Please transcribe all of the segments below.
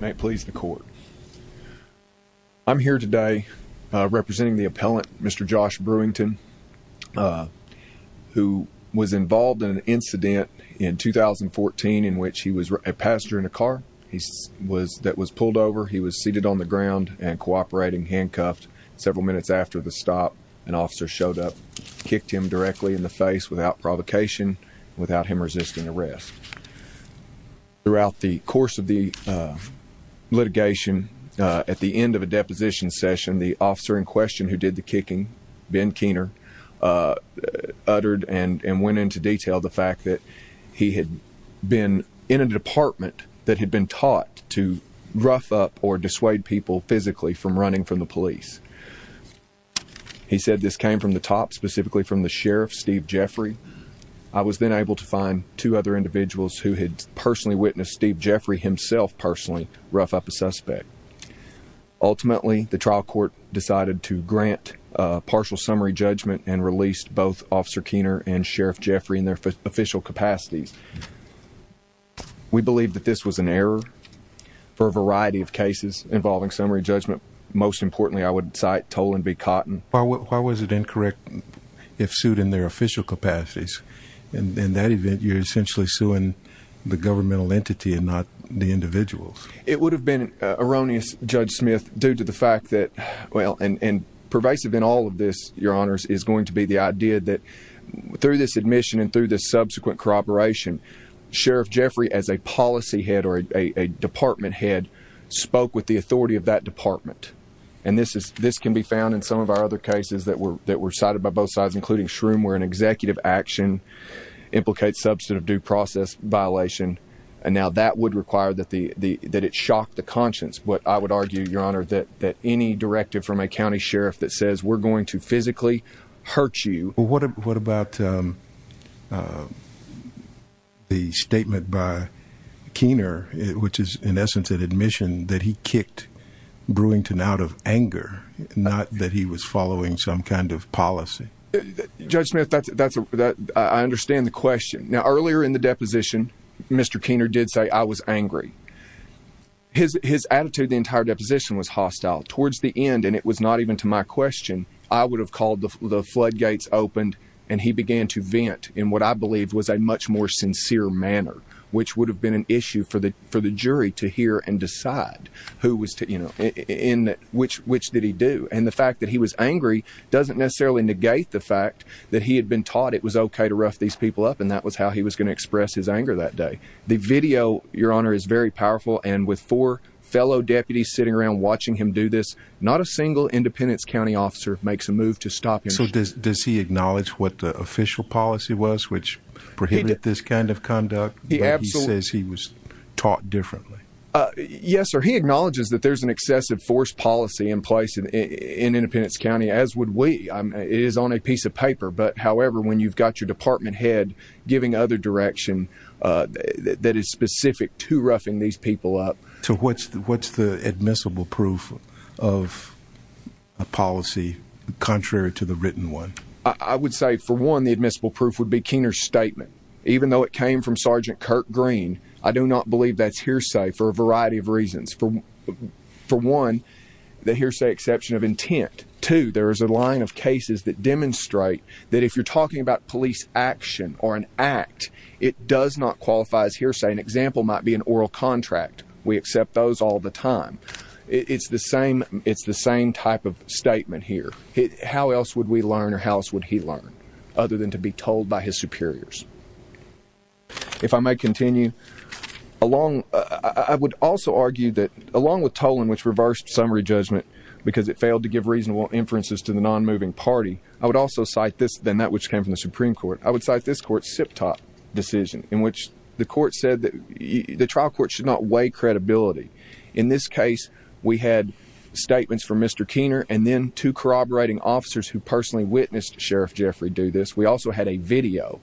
may please the court. I'm here today representing the appellant Mr. Josh Brewington who was involved in an incident in 2014 in which he was a passenger in a car he was that was pulled over he was seated on the ground and cooperating handcuffed several minutes after the stop an officer showed up kicked him directly in the face without provocation without him litigation at the end of a deposition session the officer in question who did the kicking Ben Keener uttered and went into detail the fact that he had been in a department that had been taught to rough up or dissuade people physically from running from the police he said this came from the top specifically from the sheriff Steve Jeffrey I was then able to find two other individuals who had personally witnessed Steve Jeffrey himself personally rough up a suspect ultimately the trial court decided to grant partial summary judgment and released both officer Keener and sheriff Jeffrey in their official capacities we believe that this was an error for a variety of cases involving summary judgment most importantly I would cite toll and be cotton why was it incorrect if sued in their official capacities and in that event you're essentially suing the governmental entity and not the individuals it would have been erroneous judge Smith due to the fact that well and and pervasive in all of this your honors is going to be the idea that through this admission and through the subsequent corroboration sheriff Jeffrey as a policy head or a department head spoke with the authority of that department and this is this can be found in some of our other cases that were that were cited by both sides including where an executive action implicate substantive due process violation and now that would require that the the that it shocked the conscience but I would argue your honor that that any directive from a county sheriff that says we're going to physically hurt you what about the statement by Keener which is in essence an admission that he kicked Brewington out of anger not that he was judgment that's that's that I understand the question earlier in the deposition Mr. Keener did say I was angry his attitude entire deposition was hostile towards the end and it was not even to my question I would have called the floodgates opened and he began to vent in what I believe was a much more sincere manner which would have been an issue for the for the jury to hear and decide who was to you know in which which did he do and the fact that he was angry doesn't necessarily negate the fact that he had been taught it was okay to rough these people up and that was how he was going to express his anger that day the video your honor is very powerful and with four fellow deputies sitting around watching him do this not a single Independence County officer makes a move to stop you so this does he acknowledge what the official policy was which he did this kind of conduct he absolutely was taught differently yes or he acknowledges that there's an excessive force policy in place in in Penance County as would we I'm is on a piece of paper but however when you've got your department head giving other direction that is specific to roughing these people up to what's the what's the admissible proof of a policy contrary to the written one I would say for one the admissible proof would be Keener statement even though it came from Sergeant Kirk green I do not believe that's hearsay for a variety of reasons from for one the hearsay exception of intent to there is a line of cases that demonstrate that if you're talking about police action or an act it does not qualify as hearsay an example might be an oral contract we accept those all the time it's the same it's the same type of statement here how else would we learn or house would he learn other than to be told by his superiors if I may continue along I would also argue that along with give reasonable inferences to the non-moving party I would also cite this than that which came from the Supreme Court I would cite this court SIP top decision in which the court said that the trial court should not weigh credibility in this case we had statements from Mr. Keener and then to corroborating officers who personally witnessed Sheriff Jeffrey do this we also had a video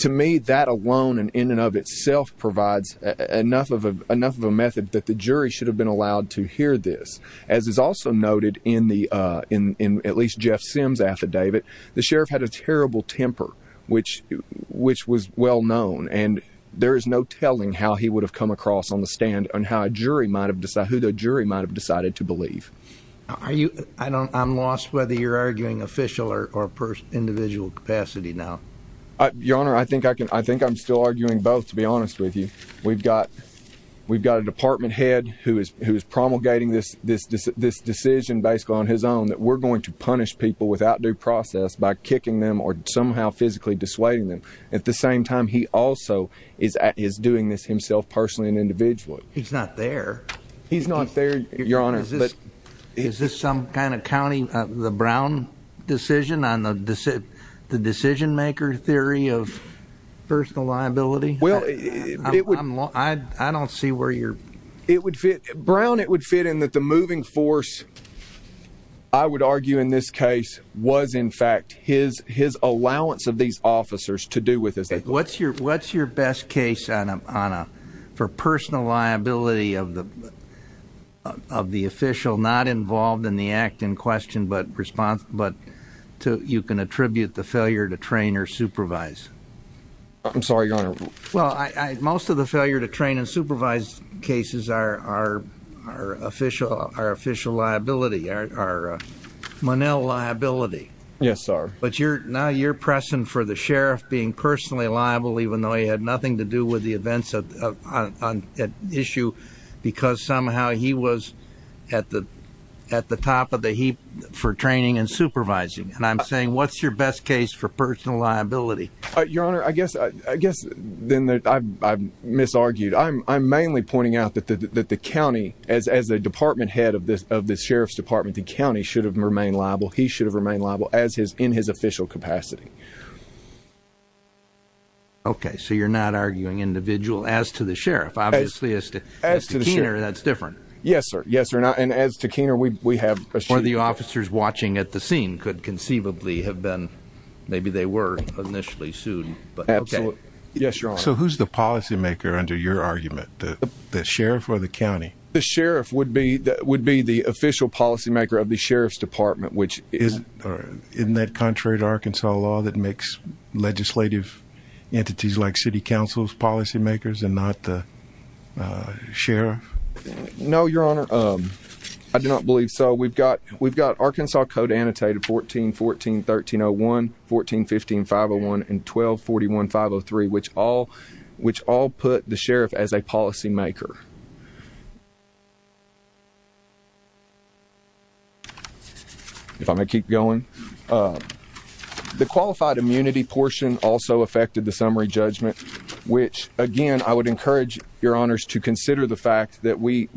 to me that alone and in and of itself provides enough of a enough of a method that the jury should have been allowed to hear this as is also noted in the in in at least Jeff Sims affidavit the sheriff had a terrible temper which which was well known and there is no telling how he would have come across on the stand and how a jury might have decide who the jury might have decided to believe are you I don't I'm lost whether you're arguing official or or personal individual capacity now your honor I think I can I think I'm still arguing both to be honest with you we've got we've got a department head who is promulgating this decision based on his own that we're going to punish people without due process by kicking them or somehow physically dissuading them at the same time he also is doing this himself personally an individual he's not there he's not there your honor but is this some kind of county the Brown decision on the decision maker theory of personal liability well I don't see where you're it would fit Brown it would fit in that the moving force I would argue in this case was in fact his his allowance of these officers to do with this what's your what's your best case on a for personal liability of the of the official not involved in the act in question but response but to you can attribute the failure to train or supervise I'm sorry your honor well I most of the failure to train and supervise cases are our official our official liability our Monell liability yes sir but you're now you're pressing for the sheriff being personally liable even though he had nothing to do with the events of issue because somehow he was at the at the top of the heap for training and supervising and I'm saying what's your best case for personal liability your honor I guess I guess then that I've misargued I'm I'm mainly pointing out that the county as as a department head of this of the sheriff's department the county should have remained liable he should have remained liable as his in his official capacity okay so you're not arguing individual as to the sheriff obviously as to as to the shooter that's different yes sir yes or not and as to Keener we have for the officers watching at the scene could conceivably have been maybe they were initially sued but okay yes your honor so who's the policymaker under your argument the sheriff or the county the sheriff would be that would be the official policymaker of the sheriff's department which is in that contrary to Arkansas law that makes legislative entities like City Council's policy makers and not the sheriff no your honor I do not believe so we've got we've got Arkansas code annotated 14 14 1301 14 15 501 and 12 41 503 which all which all put the sheriff as a policymaker if I may keep going the I would encourage your honors to consider the fact that we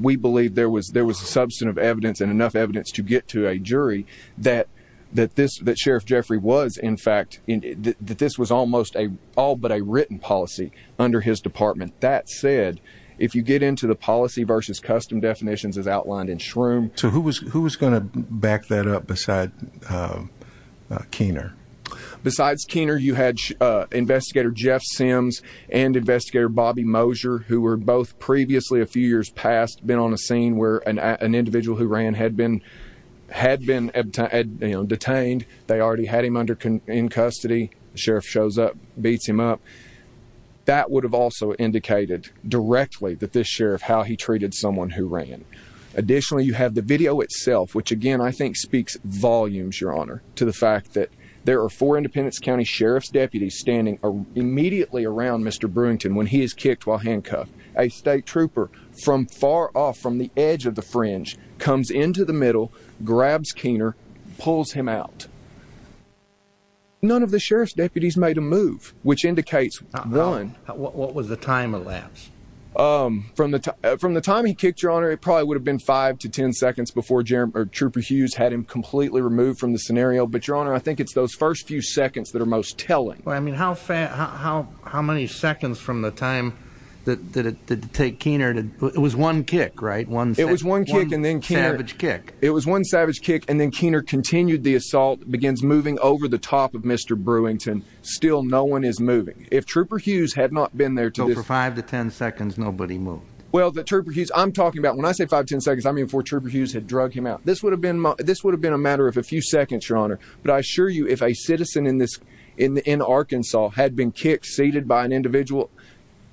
we believe there was there was a substantive evidence and enough evidence to get to a jury that that this that Sheriff Jeffrey was in fact in that this was almost a all but a written policy under his department that said if you get into the policy versus custom definitions as outlined in shroom so who was who was going to back that up beside Keener besides Keener you had investigator Jeff Sims and investigator Bobby Moser who were both previously a few years past been on a scene where an individual who ran had been had been detained they already had him under in custody sheriff shows up beats him up that would have also indicated directly that this sheriff how he treated someone who ran additionally you have the video itself which again I think speaks volumes your honor to the fact that there are four Independence County Sheriff's deputies standing immediately around mr. Brewington when he is kicked while handcuffed a state trooper from far off from the edge of the fringe comes into the middle grabs Keener pulls him out none of the sheriff's deputies made a move which indicates villain what was the time elapsed from the time from the time he kicked your honor it probably would have been five to ten seconds before Jeremy or trooper Hughes had him completely removed from the scenario but I mean how fast how how many seconds from the time that it did take Keener did it was one kick right one it was one kick and then can have its kick it was one savage kick and then Keener continued the assault begins moving over-the-top of mr. Brewington still no one is moving if trooper Hughes had not been there to go for five to ten seconds nobody moved well the trooper Hughes I'm talking about when I say five ten seconds I mean for trooper Hughes had drug him out this would have been this would have been a matter of a few seconds your honor but I assure you if a citizen in this in Arkansas had been kicked seated by an individual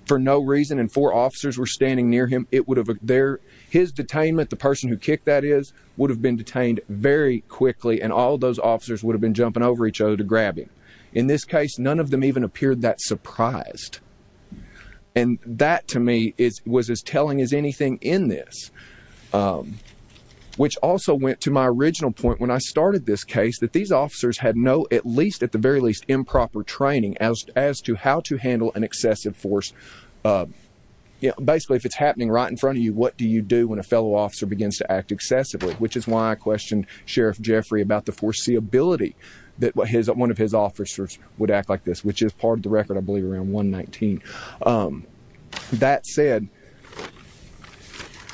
for no reason and four officers were standing near him it would have there his detainment the person who kicked that is would have been detained very quickly and all those officers would have been jumping over each other to grab him in this case none of them even appeared that surprised and that to me is was as telling as anything in this which also went to my original point when I started this case that these officers had no at least at the very least improper training as as to how to handle an excessive force basically if it's happening right in front of you what do you do when a fellow officer begins to act excessively which is why I questioned sheriff Jeffrey about the foreseeability that what his one of his officers would act like this which is part of the record I believe around 119 that said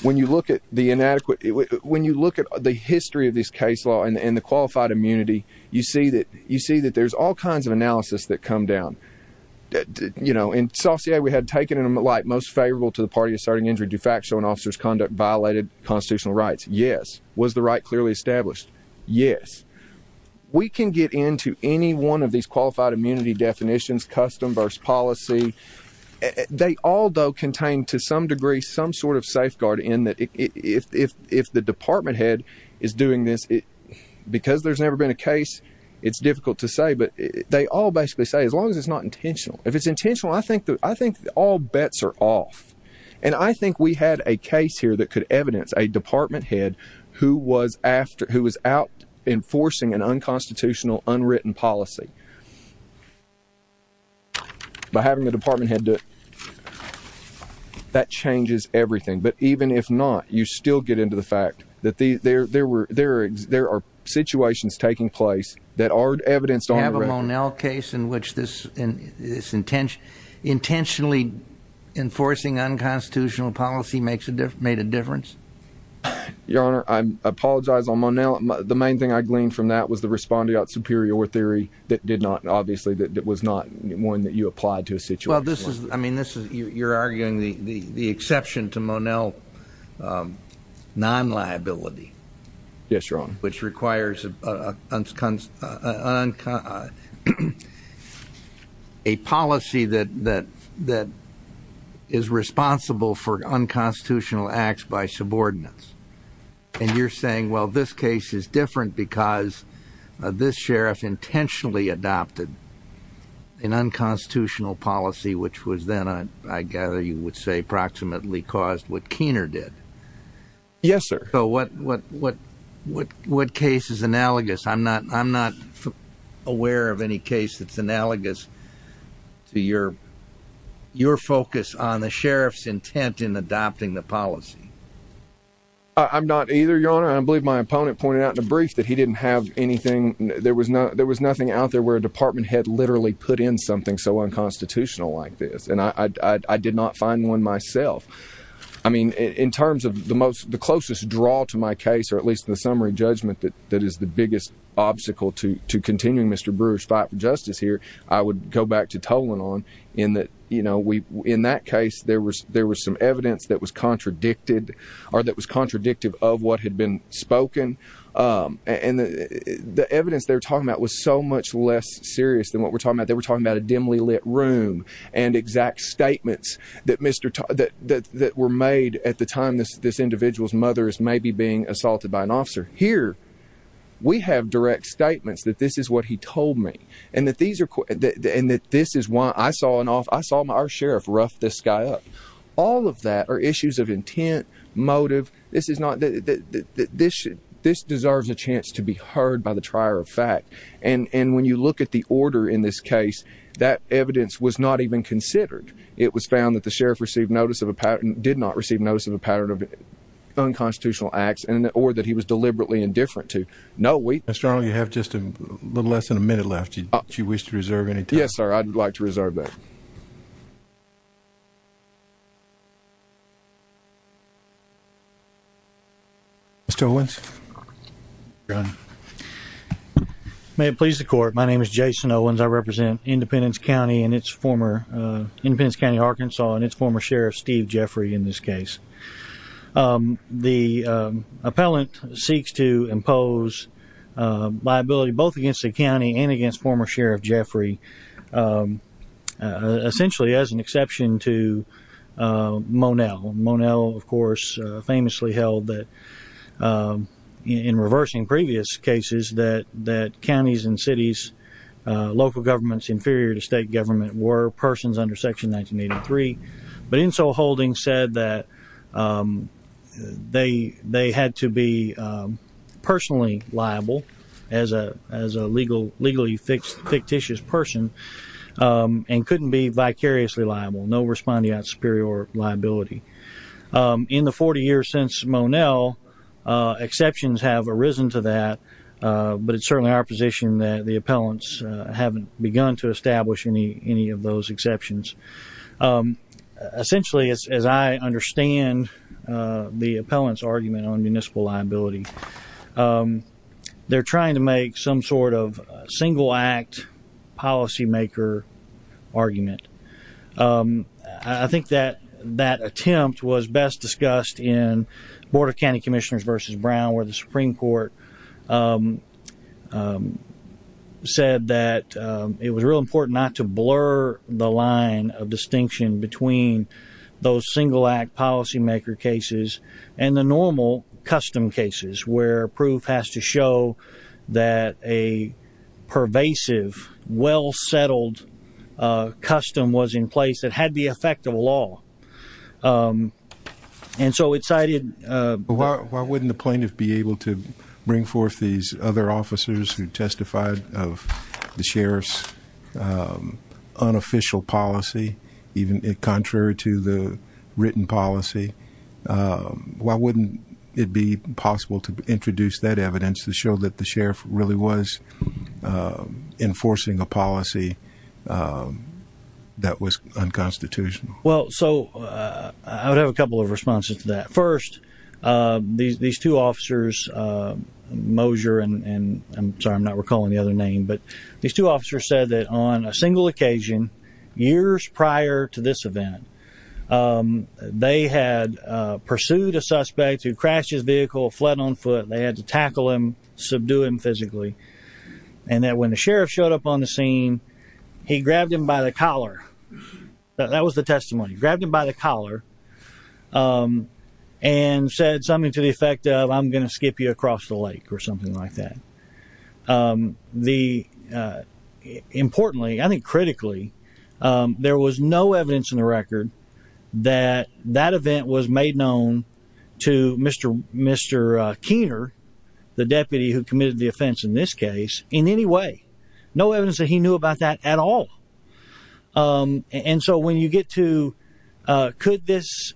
when you look at the inadequate when you look at the history of this case law and the qualified immunity you see that you see that there's all kinds of analysis that come down that did you know in Southside we had taken him like most favorable to the party starting injury to factual and officers conduct violated constitutional rights yes was the right clearly established yes we can get into any one of these qualified immunity definitions custom births policy they all though contained to some degree some sort of safeguard in that if if if the department head is doing this because there's never been a case it's difficult to say but they all basically say as long as it's not intentional if it's intentional I think that I think all bets are off and I think we had a case here that could evidence a department head who was after who was out enforcing an unconstitutional unwritten policy by having the that changes everything but even if not you still get into the fact that the there there were there there are situations taking place that are evidenced on the run L case in which this in this intention intentionally enforcing unconstitutional policy makes a different made a difference your honor I'm apologize I'm on now the main thing I gleaned from that was the responding out superior theory that did not obviously that it was not one that you applied to sit well this is I mean this is you you're arguing the exception to monel non liability which requires a policy that that that is responsible for unconstitutional acts by subordinates and you're saying well this case is different because this sheriff intentionally adopted an unconstitutional policy which was then I I gather you would say approximately caused what Keener did yes sir so what what what what what case is analogous I'm not I'm not aware of any case that's analogous to your your focus on the sheriff's intent in adopting the policy I'm not either your honor I believe my opponent pointed out in a brief that he didn't have anything there was no there was nothing out there where department had literally put in something so unconstitutional like this and I did not find one myself I mean in terms of the most the closest draw to my case or at least the summary judgment that that is the biggest obstacle to to continue mr. brewer's fight for justice here I would go back to total on in that you know we in that case there was there was some evidence that was contradicted or that was contradictive of what had been spoken and the evidence they're talking about was so much less serious than what we're talking about they were talking about a dimly lit room and exact statements that mr. that that that were made at the time this this individual's mother is maybe being assaulted by an officer here we have direct statements that this is what he told me and that these are and that this is why I saw an off I saw my sheriff rough this guy up all of that are issues of intent motive this is not that this should this deserves a chance to be heard by the trier of fact and and when you look at the order in this case that evidence was not even considered it was found that the sheriff received notice of a patent did not receive notice of a pattern of unconstitutional acts and or that he was deliberately indifferent to know we strongly have just a little less than a minute left you wish to reserve anything yes sir I'd like to reserve that mr. Owens may it please the court my name is Jason Owens I represent Independence County and its former Independence County Arkansas and its former sheriff Steve Jeffrey in this case the appellant seeks to impose liability both against the county and against former sheriff Jeffrey essentially as an exception to Monell Monell of course famously held that in reversing previous cases that that counties and cities local governments inferior to state government were persons under section 1983 but in so holding said that they they had to be personally liable as a as a legal legally fixed fictitious person and couldn't be vicariously liable no respondeat superior liability in the 40 years since Monell exceptions have arisen to that but it's certainly our position that the appellants haven't begun to establish any any of those exceptions essentially as I understand the appellants argument on municipal liability they're trying to make some sort of single-act policymaker argument I think that that attempt was best discussed in Board of County Commissioners versus Brown where the Supreme Court said that it was real important not to blur the line of distinction between those single-act policymaker cases and the normal custom cases where proof has to show that a pervasive well-settled custom was in place that had the effect of law and so it cited why wouldn't the plaintiff be able to bring forth these other officers who testified of the sheriff's unofficial policy even a contrary to the written policy why wouldn't it be possible to introduce that evidence to show that the sheriff really was enforcing a policy that was unconstitutional well so I would have a couple of responses to that first these these two officers Mosier and I'm sorry I'm not recalling the other name but these two officers said that on a single occasion years prior to this event they had pursued a suspect who crashed his vehicle fled on foot they had to tackle him subdue him physically and that when the sheriff showed up on the scene he grabbed him by the collar that was the testimony grabbed him by the collar and said something to the effect of I'm gonna skip you across the lake or importantly I think critically there was no evidence in the record that that event was made known to Mr. Mr. Keener the deputy who committed the offense in this case in any way no evidence that he knew about that at all and so when you get to could this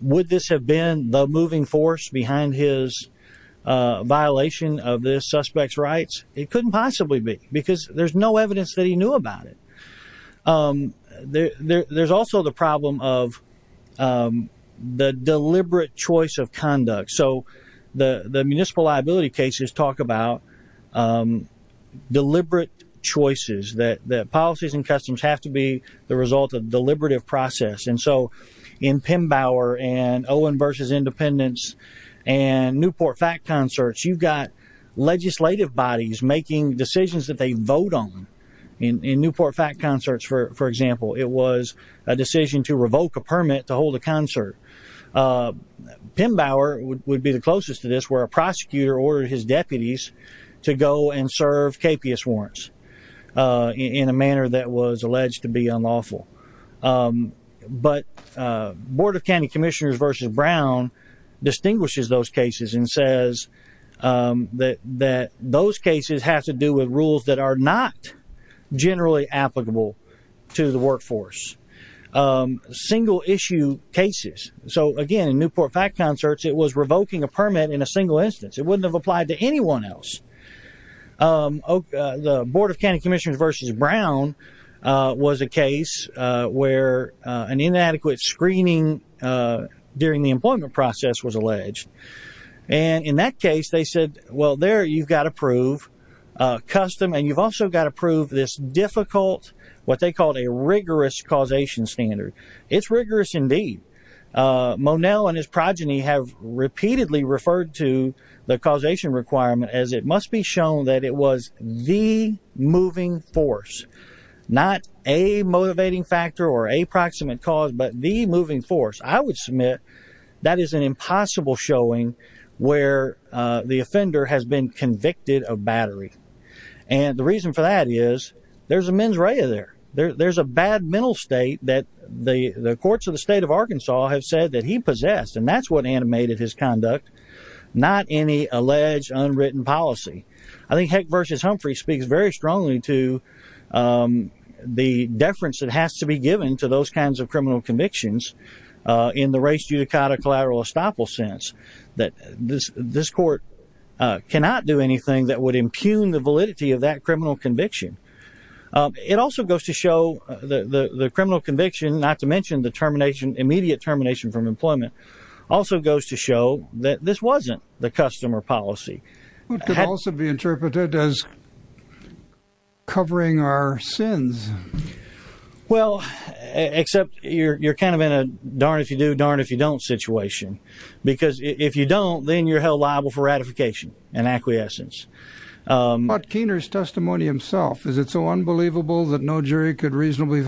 would this have been the moving force behind his violation of suspects rights it couldn't possibly be because there's no evidence that he knew about it there's also the problem of the deliberate choice of conduct so the the municipal liability cases talk about deliberate choices that that policies and customs have to be the result of deliberative process and so in Pembower and Owen versus independence and Newport fact concerts you've got legislative bodies making decisions that they vote on in Newport fact concerts for example it was a decision to revoke a permit to hold a concert Pembower would be the closest to this where a prosecutor ordered his deputies to go and serve capious warrants in a manner that was alleged to be unlawful but Board of County Commissioners versus Brown distinguishes those cases and says that that those cases have to do with rules that are not generally applicable to the workforce single-issue cases so again in Newport fact concerts it was revoking a permit in a single instance it wouldn't have applied to anyone else Oh the Board of County Commissioners versus Brown was a case where an inadequate screening during the employment process was alleged and in that case they said well there you've got to prove custom and you've also got to prove this difficult what they called a rigorous causation standard it's rigorous indeed Monell and his progeny have repeatedly referred to the causation requirement as it must be shown that it was the moving force not a motivating factor or a proximate cause but the moving force I would submit that is an impossible showing where the offender has been convicted of battery and the reason for that is there's a mens rea there there's a bad mental state that the the courts of the state of Arkansas have said that he possessed and that's what animated his conduct not any alleged unwritten policy I think heck versus Humphrey speaks very strongly to the deference that has to be given to those kinds of criminal convictions in the race to the kind of collateral estoppel sense that this this court cannot do anything that would impugn the validity of that criminal conviction it also goes to show the the criminal conviction not to mention the termination immediate termination from employment also goes to show that this wasn't the customer policy also be interpreted as covering our sins well except you're you're kind of in a darn if you do darn if you don't situation because if you don't then you're held liable for ratification and acquiescence but Keener's testimony himself is it so unbelievable that no jury could reasonably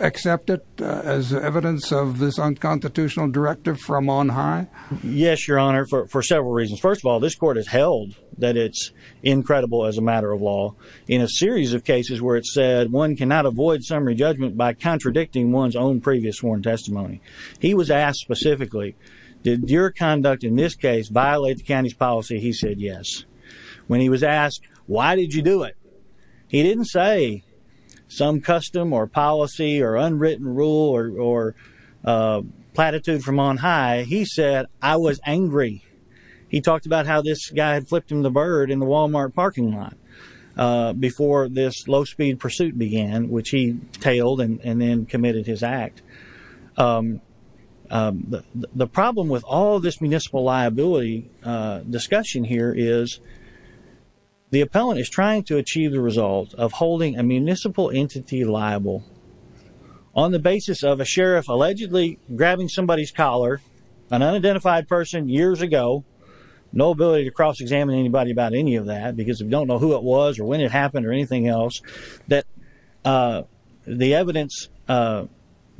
accept it as evidence of this unconstitutional directive from on high yes your honor for several reasons first of all this court is held that it's incredible as a matter of law in a series of cases where it said one cannot avoid summary judgment by contradicting one's own previous sworn testimony he was asked specifically did your conduct in this case violate the county's policy he said yes when he was asked why did you do it he didn't say some custom or policy or unwritten rule or platitude from on high he said I was angry he talked about how this guy flipped in the bird in the Walmart parking lot before this low-speed pursuit began which he tailed and then committed his act the problem with all this municipal liability discussion here is the appellant is trying to achieve the result of holding a municipal entity liable on the basis of a sheriff allegedly grabbing somebody's collar an unidentified person years ago no ability to cross-examine anybody about any of that because we don't know who it was or when it happened or anything else that the evidence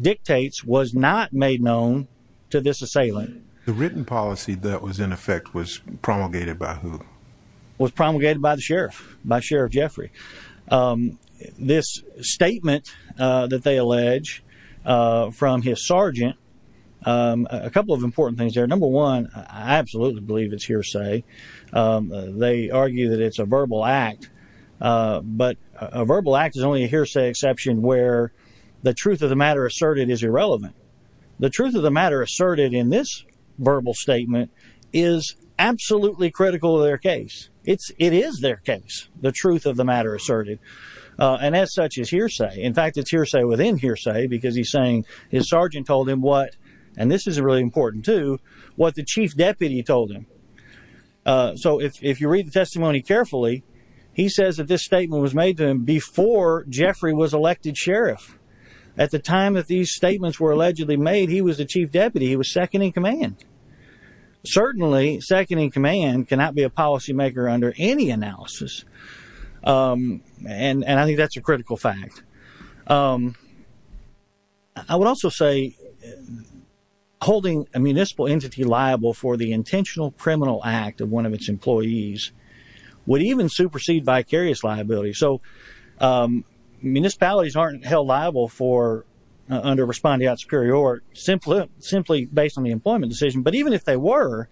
dictates was not made known to this assailant the written policy that was in effect was promulgated by who was promulgated by the sheriff by Sheriff Jeffrey this statement that they allege from his sergeant a couple of important things are number one I absolutely believe it's hearsay they argue that it's a verbal act but a verbal act is only hearsay exception where the truth of the matter asserted is irrelevant the truth of the matter asserted in this verbal statement is absolutely critical their case it's it is their case the truth of the matter asserted and as such is hearsay in fact it's hearsay within hearsay because he's saying his sergeant told him what and this is really important to what the chief deputy told him so if you read the testimony carefully he says that this statement was made to him before Jeffrey was elected sheriff at the time of these statements were allegedly made he was the chief deputy he was second in command certainly second in command cannot be a policymaker under any analysis and and I think that's a critical fact I would also say holding a municipal entity liable for the intentional criminal act of one of its employees would even supersede vicarious liability so municipalities aren't held liable for under respondeat superior or simply based on the employment decision but even if they were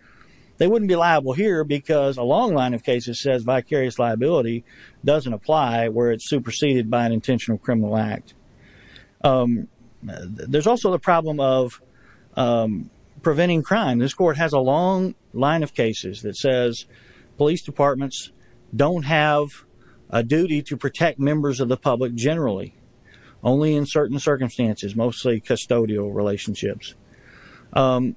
they wouldn't be liable here because a long line of cases says vicarious liability doesn't apply where it's superseded by an intentional criminal act there's also the problem of preventing crime this court has a long line of cases that says police departments don't have a duty to protect members of the public generally only in certain circumstances mostly custodial relationships well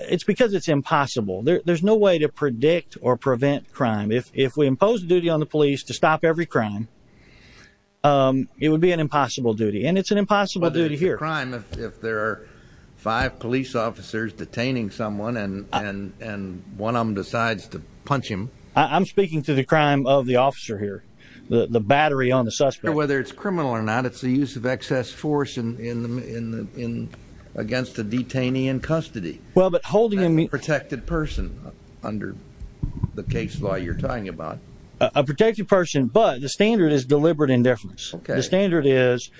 it's because it's impossible there's no way to predict or prevent crime if we impose duty on the police to stop every crime it would be an impossible duty and it's an impossible duty here if there are five police officers detaining someone and and and one of them decides to punch him I'm speaking to the crime of the officer here the battery on the suspect whether it's criminal or not it's the use of excess force and in the in against the detainee in custody well but holding a protected person under the case law you're talking about a protected person but the standard is deliberate indifference the standard is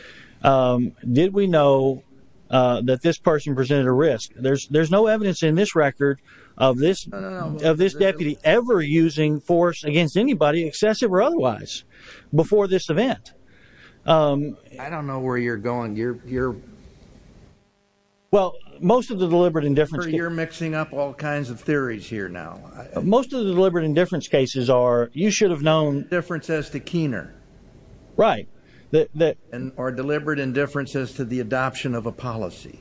did we know that this person presented a risk there's there's no evidence in this record of this of this deputy ever using force against anybody excessive or otherwise before this event I don't know where you're going you're you're well most of the deliberate indifference you're mixing up all kinds of theories here now most of the deliberate indifference cases are you should have known differences to Keener right that or deliberate indifference as to the adoption of a policy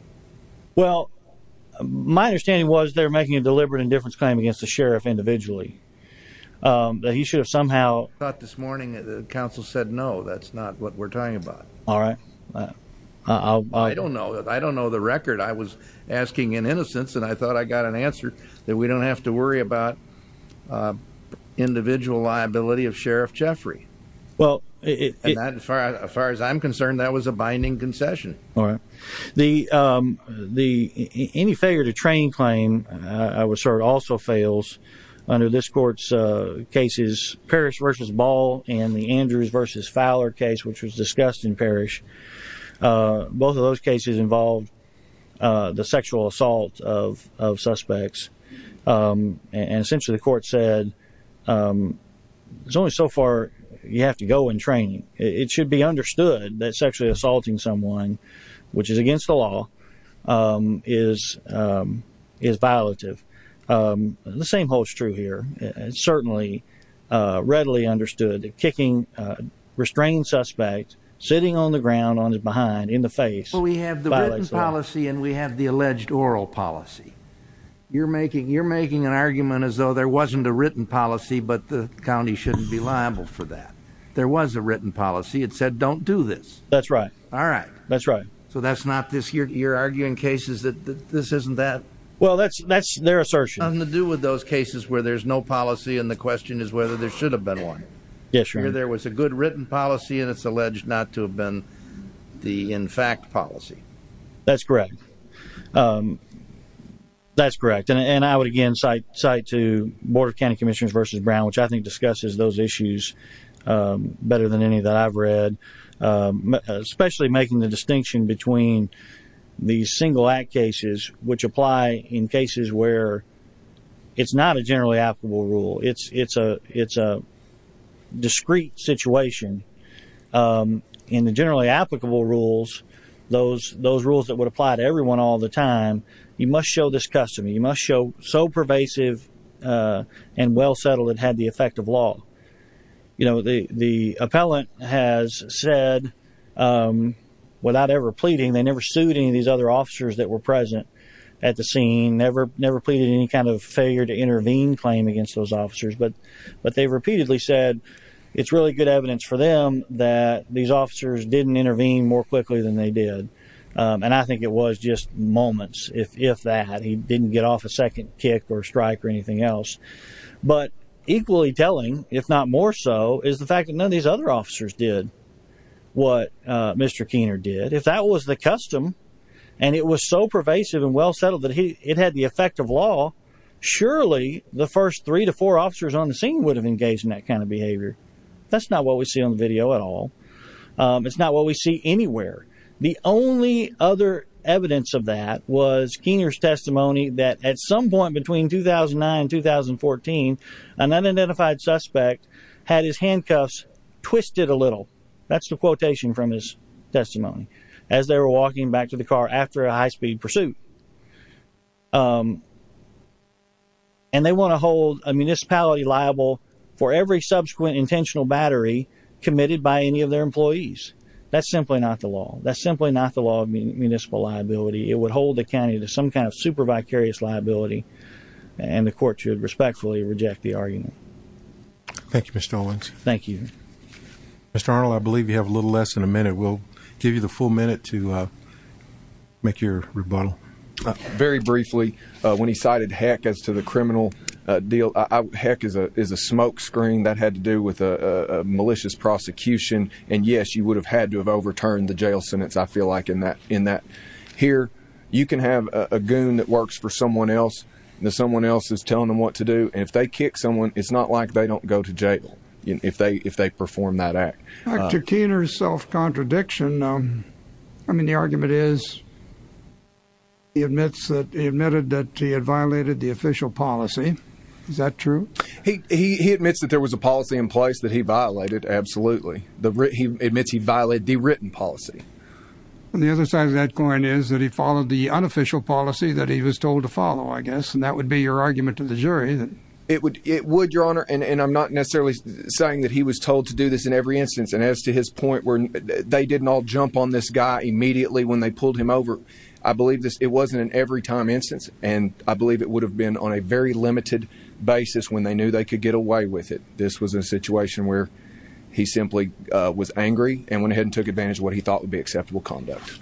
well my understanding was they're making a deliberate indifference claim against the sheriff individually he should have somehow thought this morning that the council said no that's not what we're talking about all right I don't know I don't know the record I was asking in innocence and I thought I got an answer that we don't have to worry about individual liability of Sheriff Jeffrey well as far as I'm concerned that was a binding concession the the any failure to train claim I was served also fails under this court's cases parish versus ball and the Andrews versus Fowler case which was discussed in parish both of those cases involved the sexual assault of of suspects and essentially the court said it's only so far you have to go in training it should be understood that sexually assaulting someone which is against the law is is violative the same holds true here and certainly readily understood kicking restrained suspect sitting on the ground on his behind in the face well we have the written policy and we have the alleged oral policy you're making you're making an argument as though there wasn't a written policy but the county shouldn't be liable for that there was a written policy it said don't do this that's right all right that's right so that's not this year you're arguing cases that this isn't that well that's that's their assertion to do with those cases where there's no policy and the question is whether there should have been one yes sure there was a good written policy and it's alleged not to have been the in fact policy that's um that's correct and i would again cite cite to board of county commissioners versus brown which i think discusses those issues better than any that i've read especially making the distinction between these single act cases which apply in cases where it's not a generally applicable rule it's it's a it's a time you must show this custom you must show so pervasive uh and well settled it had the effect of law you know the the appellant has said um without ever pleading they never sued any of these other officers that were present at the scene never never pleaded any kind of failure to intervene claim against those officers but but they repeatedly said it's really good evidence for them that these officers didn't intervene more quickly than they did and i think it was just moments if if that he didn't get off a second kick or strike or anything else but equally telling if not more so is the fact that none of these other officers did what uh mr keener did if that was the custom and it was so pervasive and well settled that he it had the effect of law surely the first three to four officers on the scene would have engaged in that kind of it's not what we see anywhere the only other evidence of that was keener's testimony that at some point between 2009 and 2014 an unidentified suspect had his handcuffs twisted a little that's the quotation from his testimony as they were walking back to the car after a high-speed pursuit and they want to hold a municipality liable for every subsequent intentional battery committed by any of their employees that's simply not the law that's simply not the law of municipal liability it would hold the county to some kind of super vicarious liability and the court should respectfully reject the argument thank you mr owens thank you mr arnold i believe you have a little less than a minute we'll give you the full minute to uh make your rebuttal very briefly uh when he cited heck as to the criminal uh deal i heck is a is a smoke screen that had to do with a malicious prosecution and yes you would have had to have overturned the jail sentence i feel like in that in that here you can have a goon that works for someone else that someone else is telling them what to do and if they kick someone it's not like they don't go to jail if they if they perform that act dr keener's self-contradiction i mean the argument is he admits that he admitted that he had violated the official policy is that true he he admits that there was a policy in place that he violated absolutely the he admits he violated the written policy and the other side of that coin is that he followed the unofficial policy that he was told to follow i guess and that would be your argument to the jury that it would it would your honor and and i'm not necessarily saying that he was told to do this in every instance and as to his point where they didn't all jump on this immediately when they pulled him over i believe this it wasn't an every time instance and i believe it would have been on a very limited basis when they knew they could get away with it this was a situation where he simply uh was angry and went ahead and took advantage of what he thought would be acceptable conduct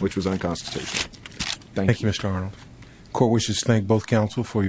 which was unconstitutional thank you mr arnold court wishes thank both counsel for your